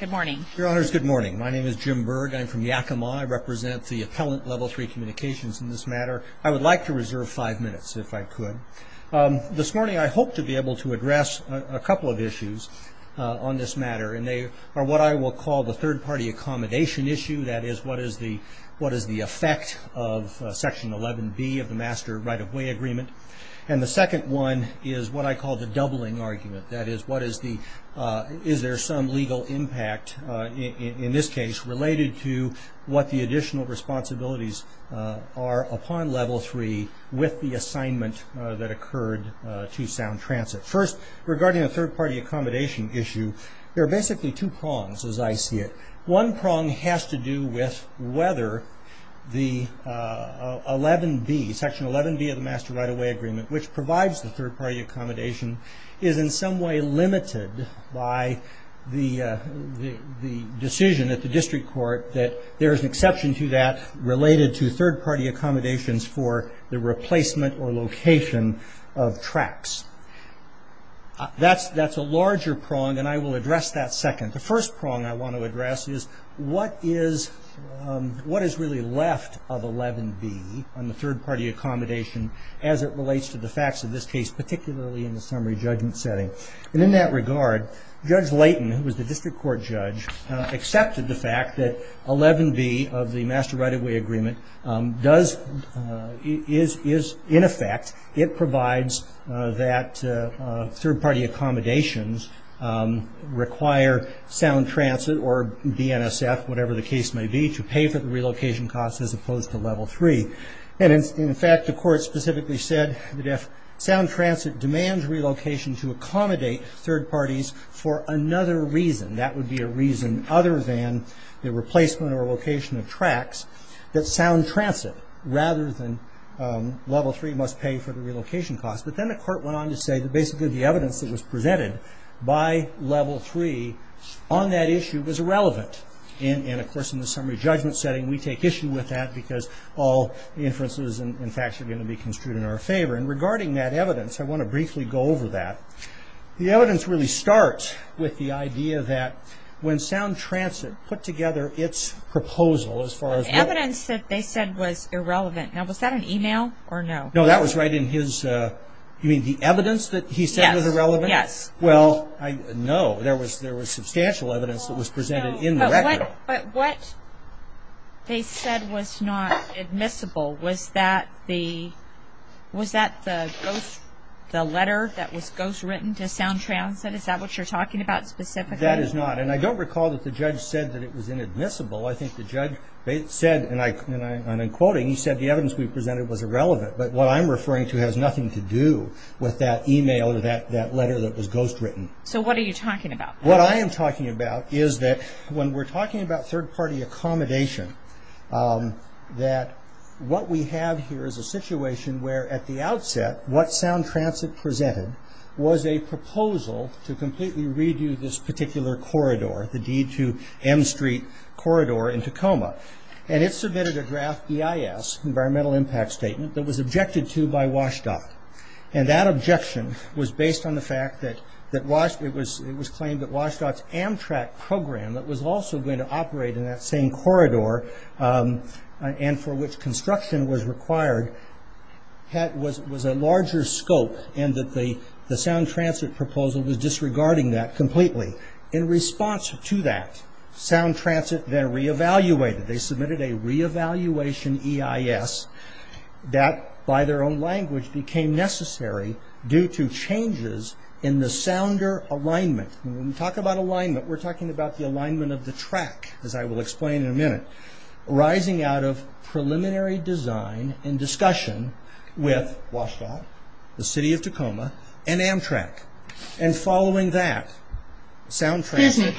Good morning. Your Honors, good morning. My name is Jim Berg. I'm from Yakima. I represent the Appellant Level 3 Communications in this matter. I would like to reserve five minutes if I could. This morning I hope to be able to address a couple of issues on this matter, and they are what I will call the third-party accommodation issue, that is, what is the effect of Section 11B of the Master Right-of-Way Agreement. And the second one is what I call the doubling argument, that is, is there some legal impact in this case related to what the additional responsibilities are upon Level 3 with the assignment that occurred to Sound Transit. First, regarding the third-party accommodation issue, there are basically two prongs as I see it. One prong has to do with whether the 11B, Section 11B of the Master Right-of-Way Agreement, which provides the third-party accommodation, is in some way limited by the decision at the district court that there is an exception to that related to third-party accommodations for the replacement or location of tracks. That's a larger prong, and I will address that second. The first prong I want to address is what is really left of 11B on the third-party accommodation as it relates to the facts of this case, particularly in the summary judgment setting. And in that regard, Judge Layton, who was the district court judge, accepted the fact that 11B of the Master Right-of-Way Agreement is in effect, it provides that third-party accommodations require Sound Transit or BNSF, whatever the case may be, to pay for the relocation costs as opposed to Level 3. And in fact, the court specifically said that if Sound Transit demands relocation to accommodate third parties for another reason, that would be a reason other than the replacement or location of tracks, that Sound Transit, rather than Level 3, must pay for the relocation costs. But then the court went on to say that basically the evidence that was presented by Level 3 on that issue was irrelevant. And of course, in the summary judgment setting, we take issue with that because all the inferences and facts are going to be construed in our favor. And regarding that evidence, I want to briefly go over that. The evidence really starts with the idea that when Sound Transit put together its proposal, as far as... Evidence that they said was irrelevant. Now, was that an email or no? No, that was right in his, you mean the evidence that he said was irrelevant? Yes. Well, no, there was substantial evidence that was presented in the record. But what they said was not admissible, was that the letter that was ghostwritten to Sound Transit? Is that what you're talking about specifically? That is not. And I don't recall that the judge said that it was inadmissible. I think the judge said, and I'm quoting, he said the evidence we presented was irrelevant. But what I'm referring to has nothing to do with that email or that letter that was ghostwritten. So what are you talking about? What I am talking about is that when we're talking about third-party accommodation, that what we have here is a situation where at the outset, what Sound Transit presented was a proposal to completely redo this particular corridor, the D2M Street corridor in Tacoma. And it submitted a draft EIS, Environmental Impact Statement, that was objected to by the fact that it was claimed that WSDOT's Amtrak program that was also going to operate in that same corridor, and for which construction was required, was a larger scope, and that the Sound Transit proposal was disregarding that completely. In response to that, Sound Transit then re-evaluated. They submitted a re-evaluation EIS that, by their own language, became necessary due to changes in the sounder alignment. When we talk about alignment, we're talking about the alignment of the track, as I will explain in a minute, arising out of preliminary design and discussion with WSDOT, the City of Tacoma, and Amtrak. And following that, Sound Transit...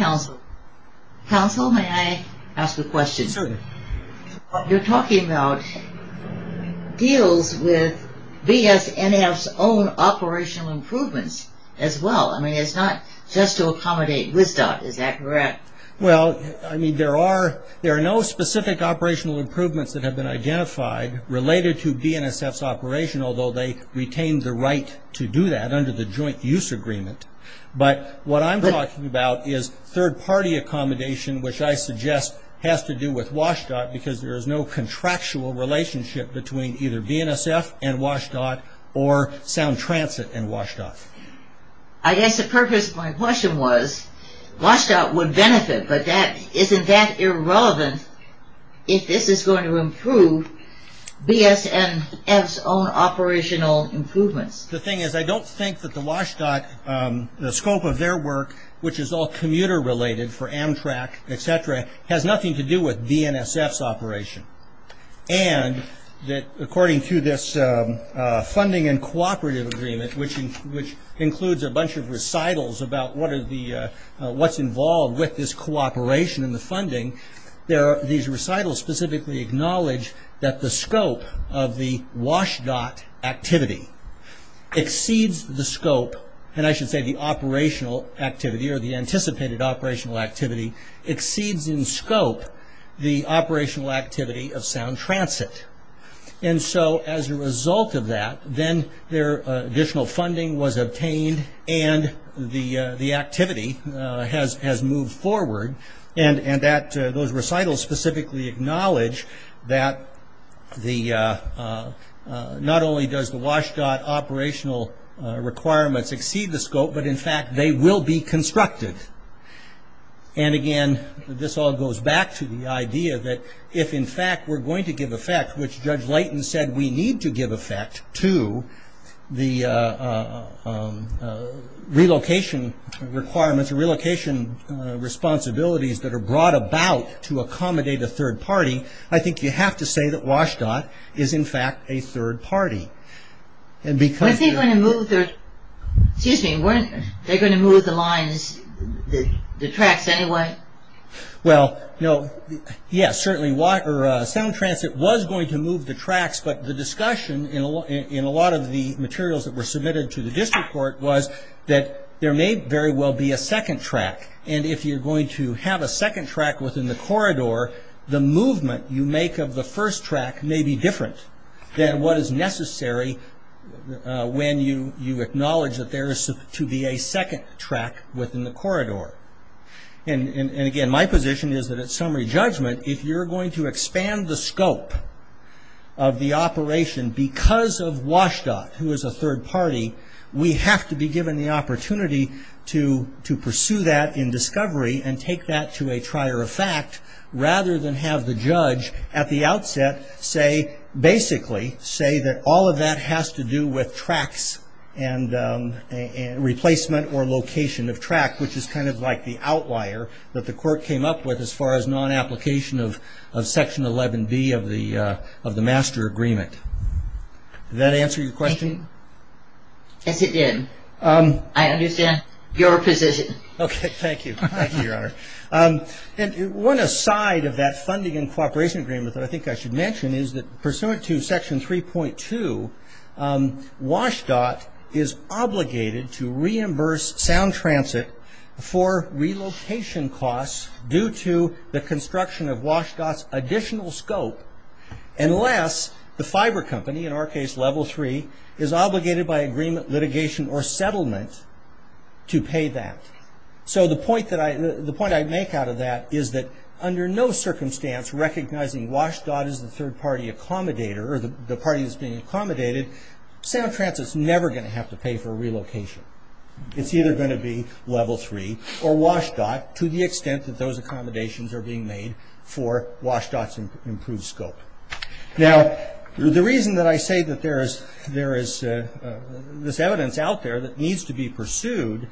with BSNF's own operational improvements as well. It's not just to accommodate WSDOT, is that correct? Well, I mean, there are no specific operational improvements that have been identified related to BNSF's operation, although they retained the right to do that under the Joint Use Agreement. But what I'm talking about is third-party accommodation, which I suggest has to do with and WSDOT, or Sound Transit and WSDOT. I guess the purpose of my question was, WSDOT would benefit, but isn't that irrelevant if this is going to improve BSNF's own operational improvements? The thing is, I don't think that the WSDOT, the scope of their work, which is all commuter-related for Amtrak, etc., has nothing to do with BNSF's operation. And according to this funding and cooperative agreement, which includes a bunch of recitals about what's involved with this cooperation and the funding, these recitals specifically acknowledge that the scope of the WSDOT activity exceeds the scope, and I should say the operational activity, or the anticipated operational activity, exceeds in scope the operational activity of Sound Transit. And so, as a result of that, then their additional funding was obtained and the activity has moved forward, and that those recitals specifically acknowledge that not only does the WSDOT operational requirements exceed the scope, but in fact, they will be constructive. And again, this all goes back to the idea that if, in fact, we're going to give effect, which Judge Leighton said we need to give effect to, the relocation requirements or relocation responsibilities that are brought about to accommodate a third party, I think you have to say that WSDOT is, in fact, a third party. Was they going to move the lines, the tracks anyway? Well, yes, certainly Sound Transit was going to move the tracks, but the discussion in a lot of the materials that were submitted to the district court was that there may very well be a second track, and if you're going to have a second track within the corridor, the movement you make of the first track may be different than what is necessary when you acknowledge that there is to be a second track within the corridor. And again, my position is that at summary judgment, if you're going to expand the scope of the operation because of WSDOT, who is a third party, we have to be given the opportunity to pursue that in discovery and take that to a trier of fact rather than have the judge at the outset say, basically, say that all of that has to do with tracks and replacement or location of track, which is kind of like the outlier that the court came up with as far as non-application of Section 11B of the master agreement. Did that answer your question? Yes, it did. I understand your position. Okay, thank you, thank you, Your Honor. One aside of that funding and cooperation agreement that I think I should mention is that pursuant to Section 3.2, WSDOT is obligated to reimburse Sound Transit for relocation costs due to the construction of WSDOT's additional scope unless the fiber company, in our case Level 3, is obligated by agreement, litigation, or settlement to pay that. The point I make out of that is that under no circumstance recognizing WSDOT as the third party accommodator or the party that's being accommodated, Sound Transit's never going to have to pay for relocation. It's either going to be Level 3 or WSDOT to the extent that those accommodations are being made for WSDOT's improved scope. Now, the reason that I say that there is this evidence out there that needs to be pursued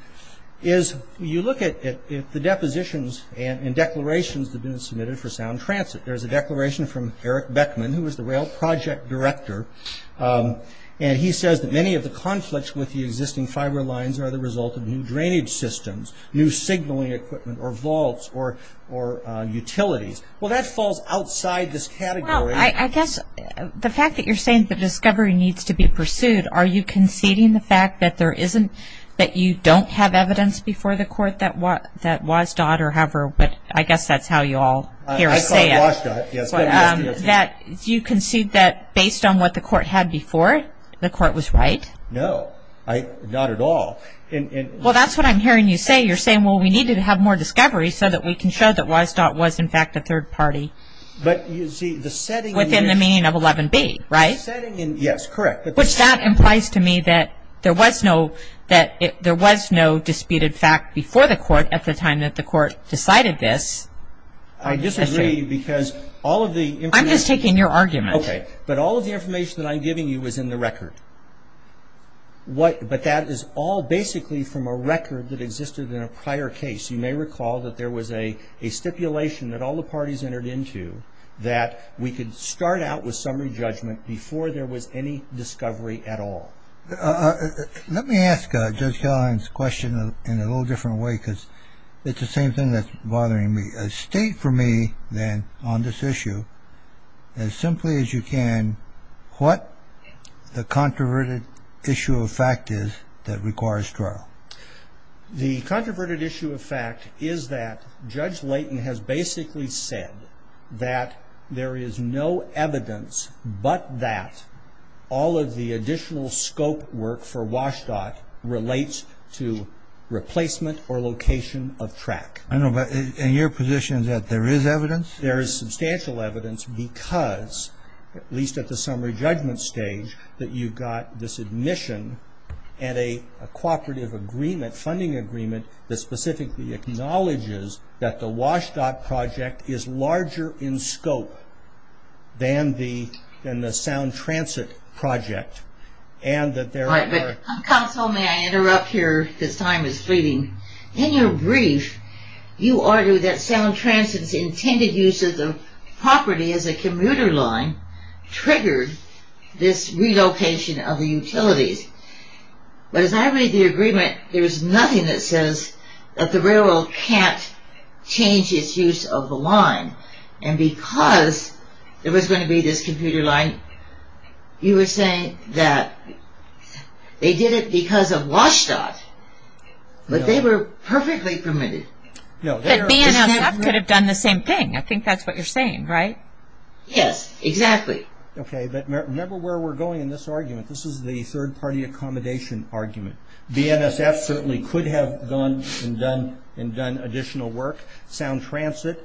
is you look at the depositions and declarations that have been submitted for Sound Transit. There's a declaration from Eric Beckman, who is the rail project director, and he says that many of the conflicts with the existing fiber lines are the result of new drainage systems, new signaling equipment, or vaults, or utilities. Well, that falls outside this category. Well, I guess the fact that you're saying that discovery needs to be pursued, are you conceding the fact that you don't have evidence before the court that WSDOT or however, but I guess that's how you all hear us say it, that you concede that based on what the court had before, the court was right? No, not at all. Well that's what I'm hearing you say. You're saying, well, we need to have more discovery so that we can show that WSDOT was in fact, a third party within the meaning of 11B, right? Yes, correct. Which that implies to me that there was no disputed fact before the court at the time that the court decided this. I disagree because all of the information. I'm just taking your argument. But all of the information that I'm giving you is in the record. But that is all basically from a record that existed in a prior case. You may recall that there was a stipulation that all the parties entered into that we could start out with summary judgment before there was any discovery at all. Let me ask Judge Callahan's question in a little different way because it's the same thing that's bothering me. State for me then, on this issue, as simply as you can, what the controverted issue of fact is that requires trial? The controverted issue of fact is that Judge Layton has basically said that there is no evidence but that all of the additional scope work for WSDOT relates to replacement or location of track. I know, but in your position, is that there is evidence? There is substantial evidence because, at least at the summary judgment stage, that you got this admission and a cooperative agreement, funding agreement, that specifically acknowledges that the WSDOT project is larger in scope than the Sound Transit project and that there are... Counsel, may I interrupt here? This time is fleeting. In your brief, you argue that Sound Transit's intended use of the property as a commuter line triggered this relocation of the utilities, but as I read the agreement, there is nothing that says that the railroad can't change its use of the line and because there was going to be this commuter line, you are saying that they did it because of WSDOT, but they were perfectly permitted. But me and NSF could have done the same thing. I think that's what you're saying, right? Yes, exactly. Okay, but remember where we're going in this argument. This is the third party accommodation argument. BNSF certainly could have gone and done additional work. Sound Transit,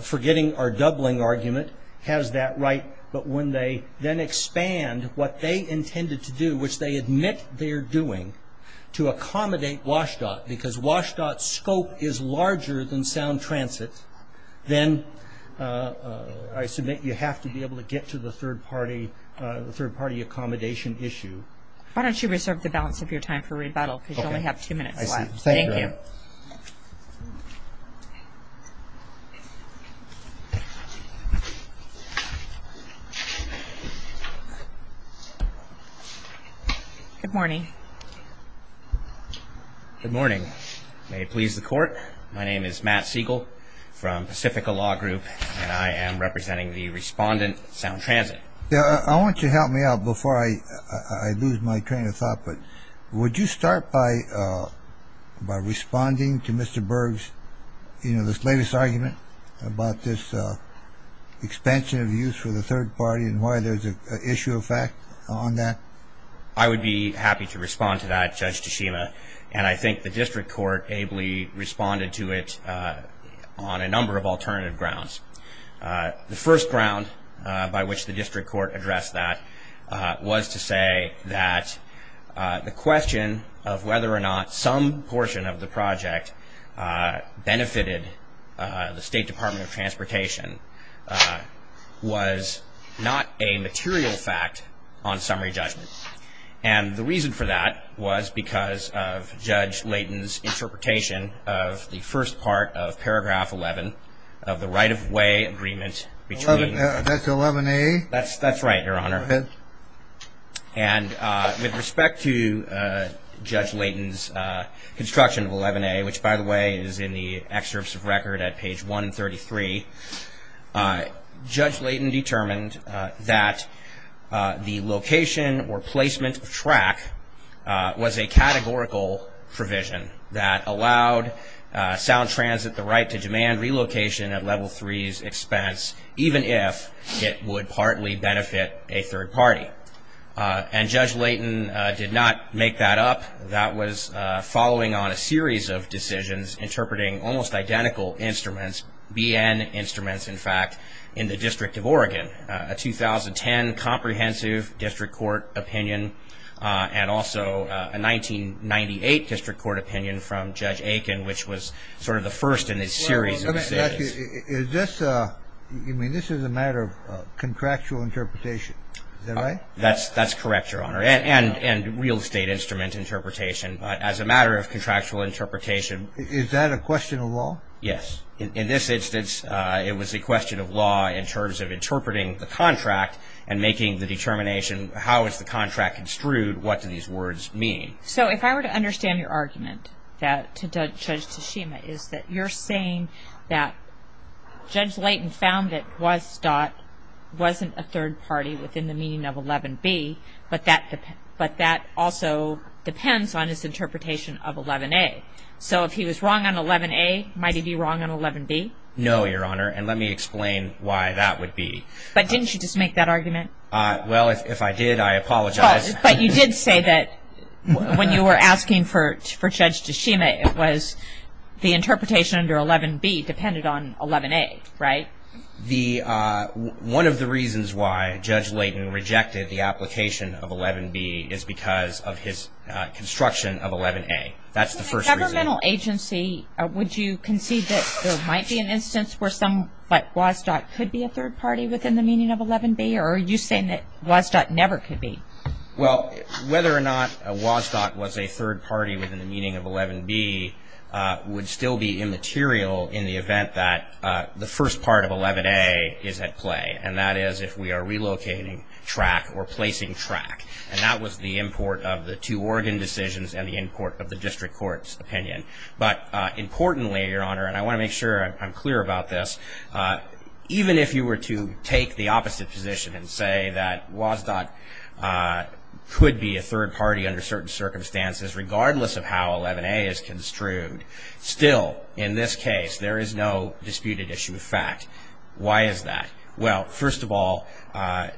forgetting our doubling argument, has that right, but when they then expand what they intended to do, which they admit they're doing, to accommodate WSDOT because WSDOT's scope is larger than Sound Transit, then I submit you have to be able to get to the third party accommodation issue. Why don't you reserve the balance of your time for rebuttal because you only have two minutes left. Thank you. Good morning. Good morning. May it please the court, my name is Matt Siegel from Pacifica Law Group and I am representing the respondent, Sound Transit. I want you to help me out before I lose my train of thought, but would you start by responding to Mr. Berg's, you know, this latest argument about this expansion of use for the third party and why there's an issue of fact on that? I would be happy to respond to that, Judge Tashima, and I think the district court ably responded to it on a number of alternative grounds. The first ground by which the district court addressed that was to say that the question of whether or not some portion of the project benefited the State Department of Transportation was not a material fact on summary judgment. And the reason for that was because of Judge Layton's interpretation of the first part of paragraph 11 of the right-of-way agreement between That's 11A? That's right, Your Honor. Go ahead. And with respect to Judge Layton's construction of 11A, which by the way is in the excerpts of record at page 133, Judge Layton determined that the location or placement of track was a categorical provision that allowed Sound Transit the right to demand relocation at Level 3's expense, even if it would partly benefit a third party. And Judge Layton did not make that up. That was following on a series of decisions interpreting almost identical instruments, BN instruments, in fact, in the District of Oregon, a 2010 comprehensive district court opinion and also a 1998 district court opinion from Judge Aiken, which was sort of the first in a series of decisions. Well, let me ask you. Is this, I mean, this is a matter of contractual interpretation, is that right? That's correct, Your Honor. And real estate instrument interpretation. As a matter of contractual interpretation. Is that a question of law? Yes. In this instance, it was a question of law in terms of interpreting the contract and making the determination how is the contract construed, what do these words mean. So if I were to understand your argument to Judge Tashima, is that you're saying that Judge Layton found that WSDOT wasn't a third party within the meaning of 11B, but that also depends on his interpretation of 11A. So if he was wrong on 11A, might he be wrong on 11B? No, Your Honor. And let me explain why that would be. But didn't you just make that argument? Well, if I did, I apologize. But you did say that when you were asking for Judge Tashima, it was the interpretation under 11B depended on 11A, right? One of the reasons why Judge Layton rejected the application of 11B is because of his construction of 11A. That's the first reason. As a governmental agency, would you concede that there might be an instance where some like WSDOT could be a third party within the meaning of 11B? Or are you saying that WSDOT never could be? Well, whether or not WSDOT was a third party within the meaning of 11B would still be immaterial in the event that the first part of 11A is at play. And that is if we are relocating track or placing track. And that was the import of the two Oregon decisions and the import of the district court's opinion. But importantly, Your Honor, and I want to make sure I'm clear about this, even if you were to take the opposite position and say that WSDOT could be a third party under certain case, there is no disputed issue of fact. Why is that? Well, first of all,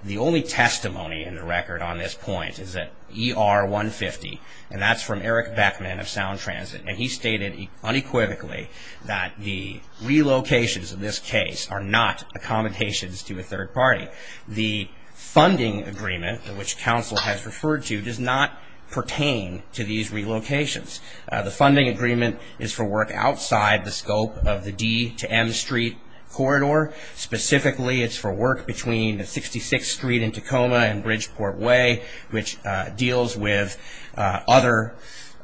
the only testimony in the record on this point is that ER 150, and that's from Eric Beckman of Sound Transit, and he stated unequivocally that the relocations of this case are not accommodations to a third party. The funding agreement, which counsel has referred to, does not pertain to these relocations. The funding agreement is for work outside the scope of the D to M Street corridor. Specifically, it's for work between 66th Street and Tacoma and Bridgeport Way, which deals with other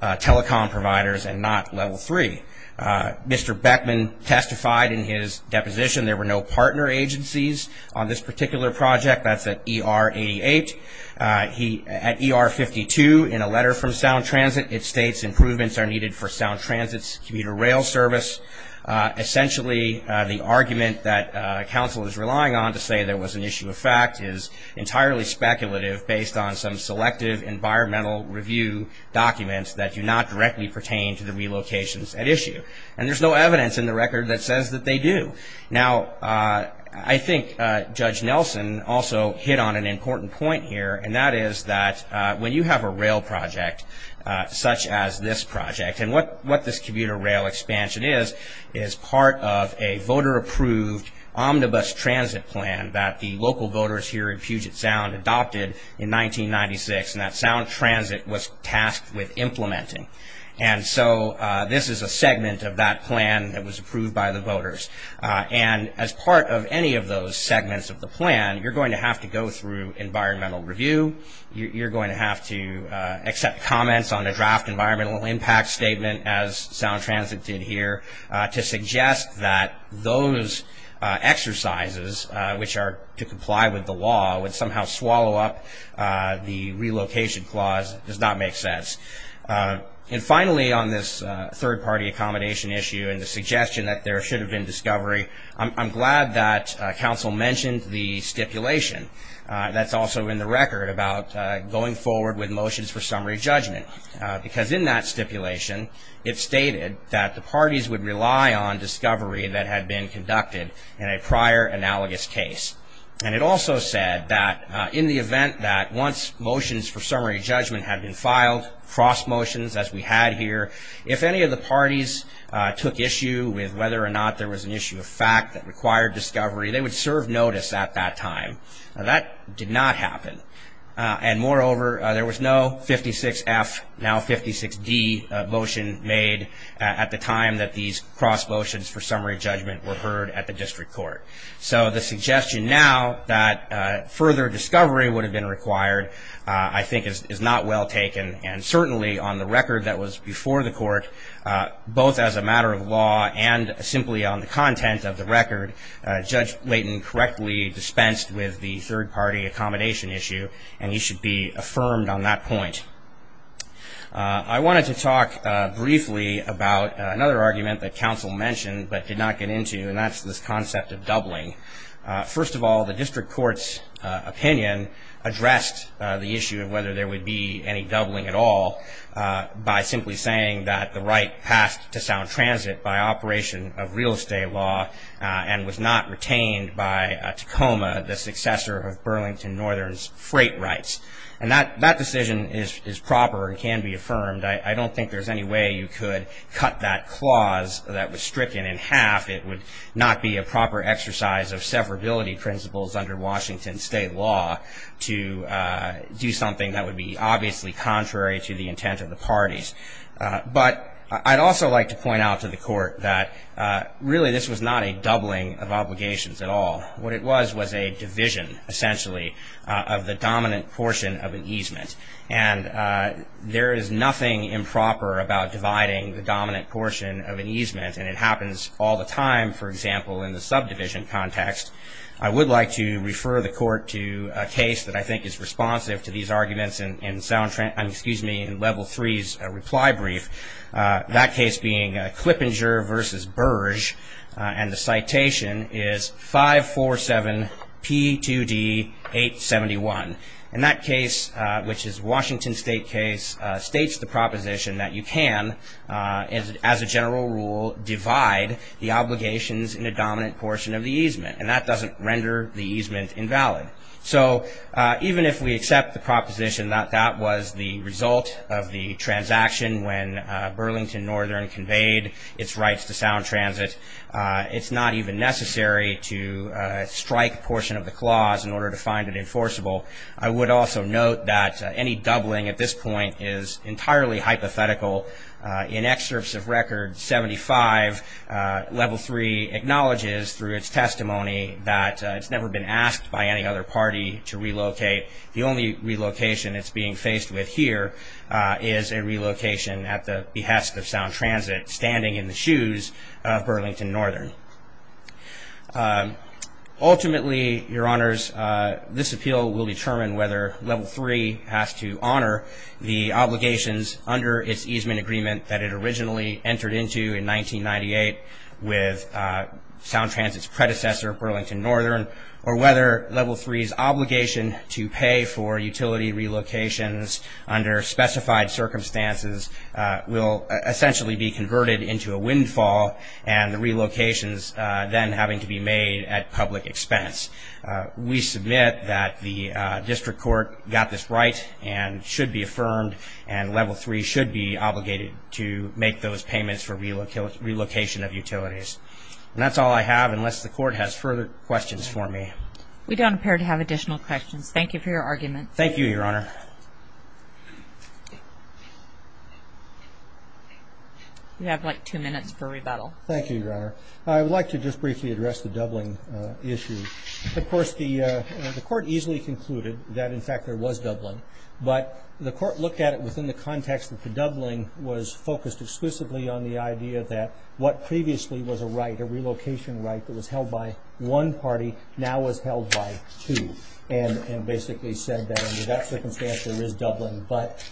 telecom providers and not Level 3. Mr. Beckman testified in his deposition there were no partner agencies on this particular project. That's at ER 88. At ER 52, in a letter from Sound Transit, it states improvements are needed for Sound Transit's commuter rail service. Essentially, the argument that counsel is relying on to say there was an issue of fact is entirely speculative based on some selective environmental review documents that do not directly pertain to the relocations at issue, and there's no evidence in the record that says that they do. Now, I think Judge Nelson also hit on an important point here, and that is that when you have a rail project such as this project, and what this commuter rail expansion is, is part of a voter-approved omnibus transit plan that the local voters here in Puget Sound adopted in 1996, and that Sound Transit was tasked with implementing. And so this is a segment of that plan that was approved by the voters. And as part of any of those segments of the plan, you're going to have to go through environmental review. You're going to have to accept comments on a draft environmental impact statement, as Sound Transit did here, to suggest that those exercises, which are to comply with the law, would somehow swallow up the relocation clause. It does not make sense. And finally, on this third-party accommodation issue and the suggestion that there should have been discovery, I'm glad that counsel mentioned the stipulation that's also in the record about going forward with motions for summary judgment, because in that stipulation, it stated that the parties would rely on discovery that had been conducted in a prior analogous case. And it also said that in the event that once motions for summary judgment had been filed, cross-motions as we had here, if any of the parties took issue with whether or not there was an issue of fact that required discovery, they would serve notice at that time. That did not happen. And moreover, there was no 56F, now 56D, motion made at the time that these cross-motions for summary judgment were heard at the district court. So the suggestion now that further discovery would have been required, I think, is not well taken. And certainly, on the record that was before the court, both as a matter of law and simply on the content of the record, Judge Layton correctly dispensed with the third-party accommodation issue, and he should be affirmed on that point. I wanted to talk briefly about another argument that counsel mentioned but did not get into, and that's this concept of doubling. First of all, the district court's opinion addressed the issue of whether there would be any doubling at all by simply saying that the right passed to Sound Transit by operation of real estate law and was not retained by Tacoma, the successor of Burlington Northern's freight rights. And that decision is proper and can be affirmed. I don't think there's any way you could cut that clause that was stricken in half. It would not be a proper exercise of severability principles under Washington state law to do something that would be obviously contrary to the intent of the parties. But I'd also like to point out to the court that really this was not a doubling of obligations at all. What it was was a division, essentially, of the dominant portion of an easement. And there is nothing improper about dividing the dominant portion of an easement, and it for example, in the subdivision context. I would like to refer the court to a case that I think is responsive to these arguments in Level 3's reply brief, that case being Clippinger v. Burge, and the citation is 547 P2D 871. And that case, which is Washington state case, states the proposition that you can, as a general rule, divide the obligations in a dominant portion of the easement. And that doesn't render the easement invalid. So even if we accept the proposition that that was the result of the transaction when Burlington Northern conveyed its rights to sound transit, it's not even necessary to strike a portion of the clause in order to find it enforceable. I would also note that any doubling at this point is entirely hypothetical. In excerpts of Record 75, Level 3 acknowledges through its testimony that it's never been asked by any other party to relocate. The only relocation it's being faced with here is a relocation at the behest of sound transit standing in the shoes of Burlington Northern. Ultimately, Your Honors, this appeal will determine whether Level 3 has to honor the easement agreement that it originally entered into in 1998 with sound transit's predecessor, Burlington Northern, or whether Level 3's obligation to pay for utility relocations under specified circumstances will essentially be converted into a windfall and the relocations then having to be made at public expense. We submit that the district court got this right and should be affirmed and Level 3 should be obligated to make those payments for relocation of utilities. That's all I have unless the court has further questions for me. We don't appear to have additional questions. Thank you for your argument. Thank you, Your Honor. You have like two minutes for rebuttal. Thank you, Your Honor. I would like to just briefly address the doubling issue. Of course, the court easily concluded that, in fact, there was doubling, but the court looked at it within the context that the doubling was focused exclusively on the idea that what previously was a right, a relocation right, that was held by one party now was held by two, and basically said that under that circumstance there is doubling, but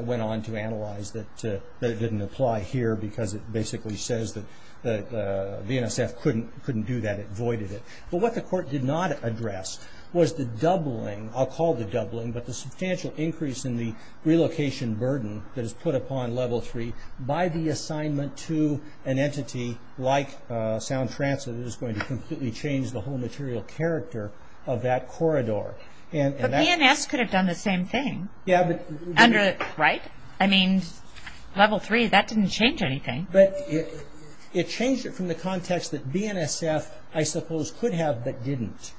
went on to analyze that it didn't apply here because it basically says that the NSF couldn't do that, it voided it. What the court did not address was the doubling, I'll call the doubling, but the substantial increase in the relocation burden that is put upon Level 3 by the assignment to an entity like Sound Transit is going to completely change the whole material character of that corridor. But BNS could have done the same thing, right? I mean, Level 3, that didn't change anything. It changed it from the context that BNSF, I suppose, could have but didn't.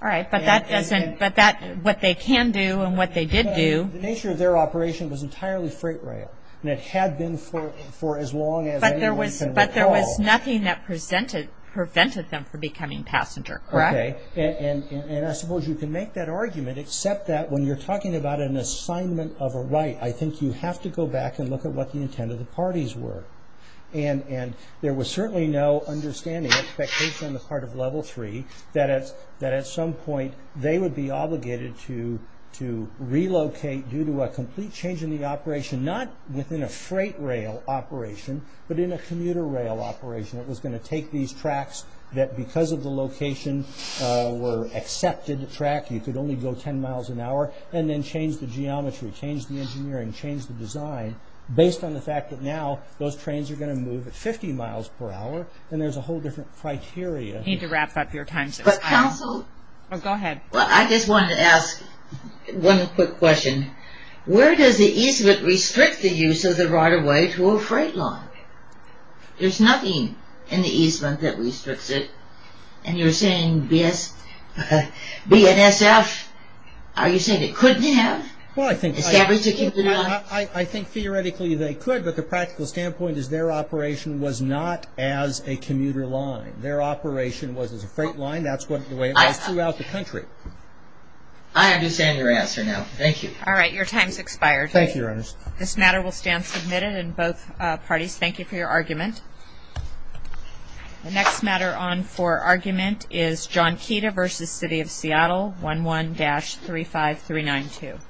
All right, but that doesn't, but that, what they can do and what they did do. The nature of their operation was entirely freight rail, and it had been for as long as anyone can recall. But there was nothing that prevented them from becoming passenger, correct? Okay, and I suppose you can make that argument except that when you're talking about an assignment of a right, I think you have to go back and look at what the intent of the parties were, and there was certainly no understanding or expectation on the part of Level 3 that at some point they would be obligated to relocate due to a complete change in the operation, not within a freight rail operation, but in a commuter rail operation that was going to take these tracks that, because of the location, were accepted track, you could only go ten miles an hour, and then change the geometry, change the engineering, change the design based on the fact that now those trains are going to move at 50 miles per hour, and there's a whole different criteria. You need to wrap up your time, so I'm... But counsel... Oh, go ahead. Well, I just wanted to ask one quick question. Where does the easement restrict the use of the right-of-way to a freight line? There's nothing in the easement that restricts it, and you're saying BNSF, are you saying it couldn't have? Well, I think... Theoretically, they could, but the practical standpoint is their operation was not as a commuter line. Their operation was as a freight line. That's the way it was throughout the country. I understand your answer now. Thank you. All right. Your time's expired. Thank you, Your Honor. This matter will stand submitted in both parties. Thank you for your argument. The next matter on for argument is John Keita v. City of Seattle, 11-35392.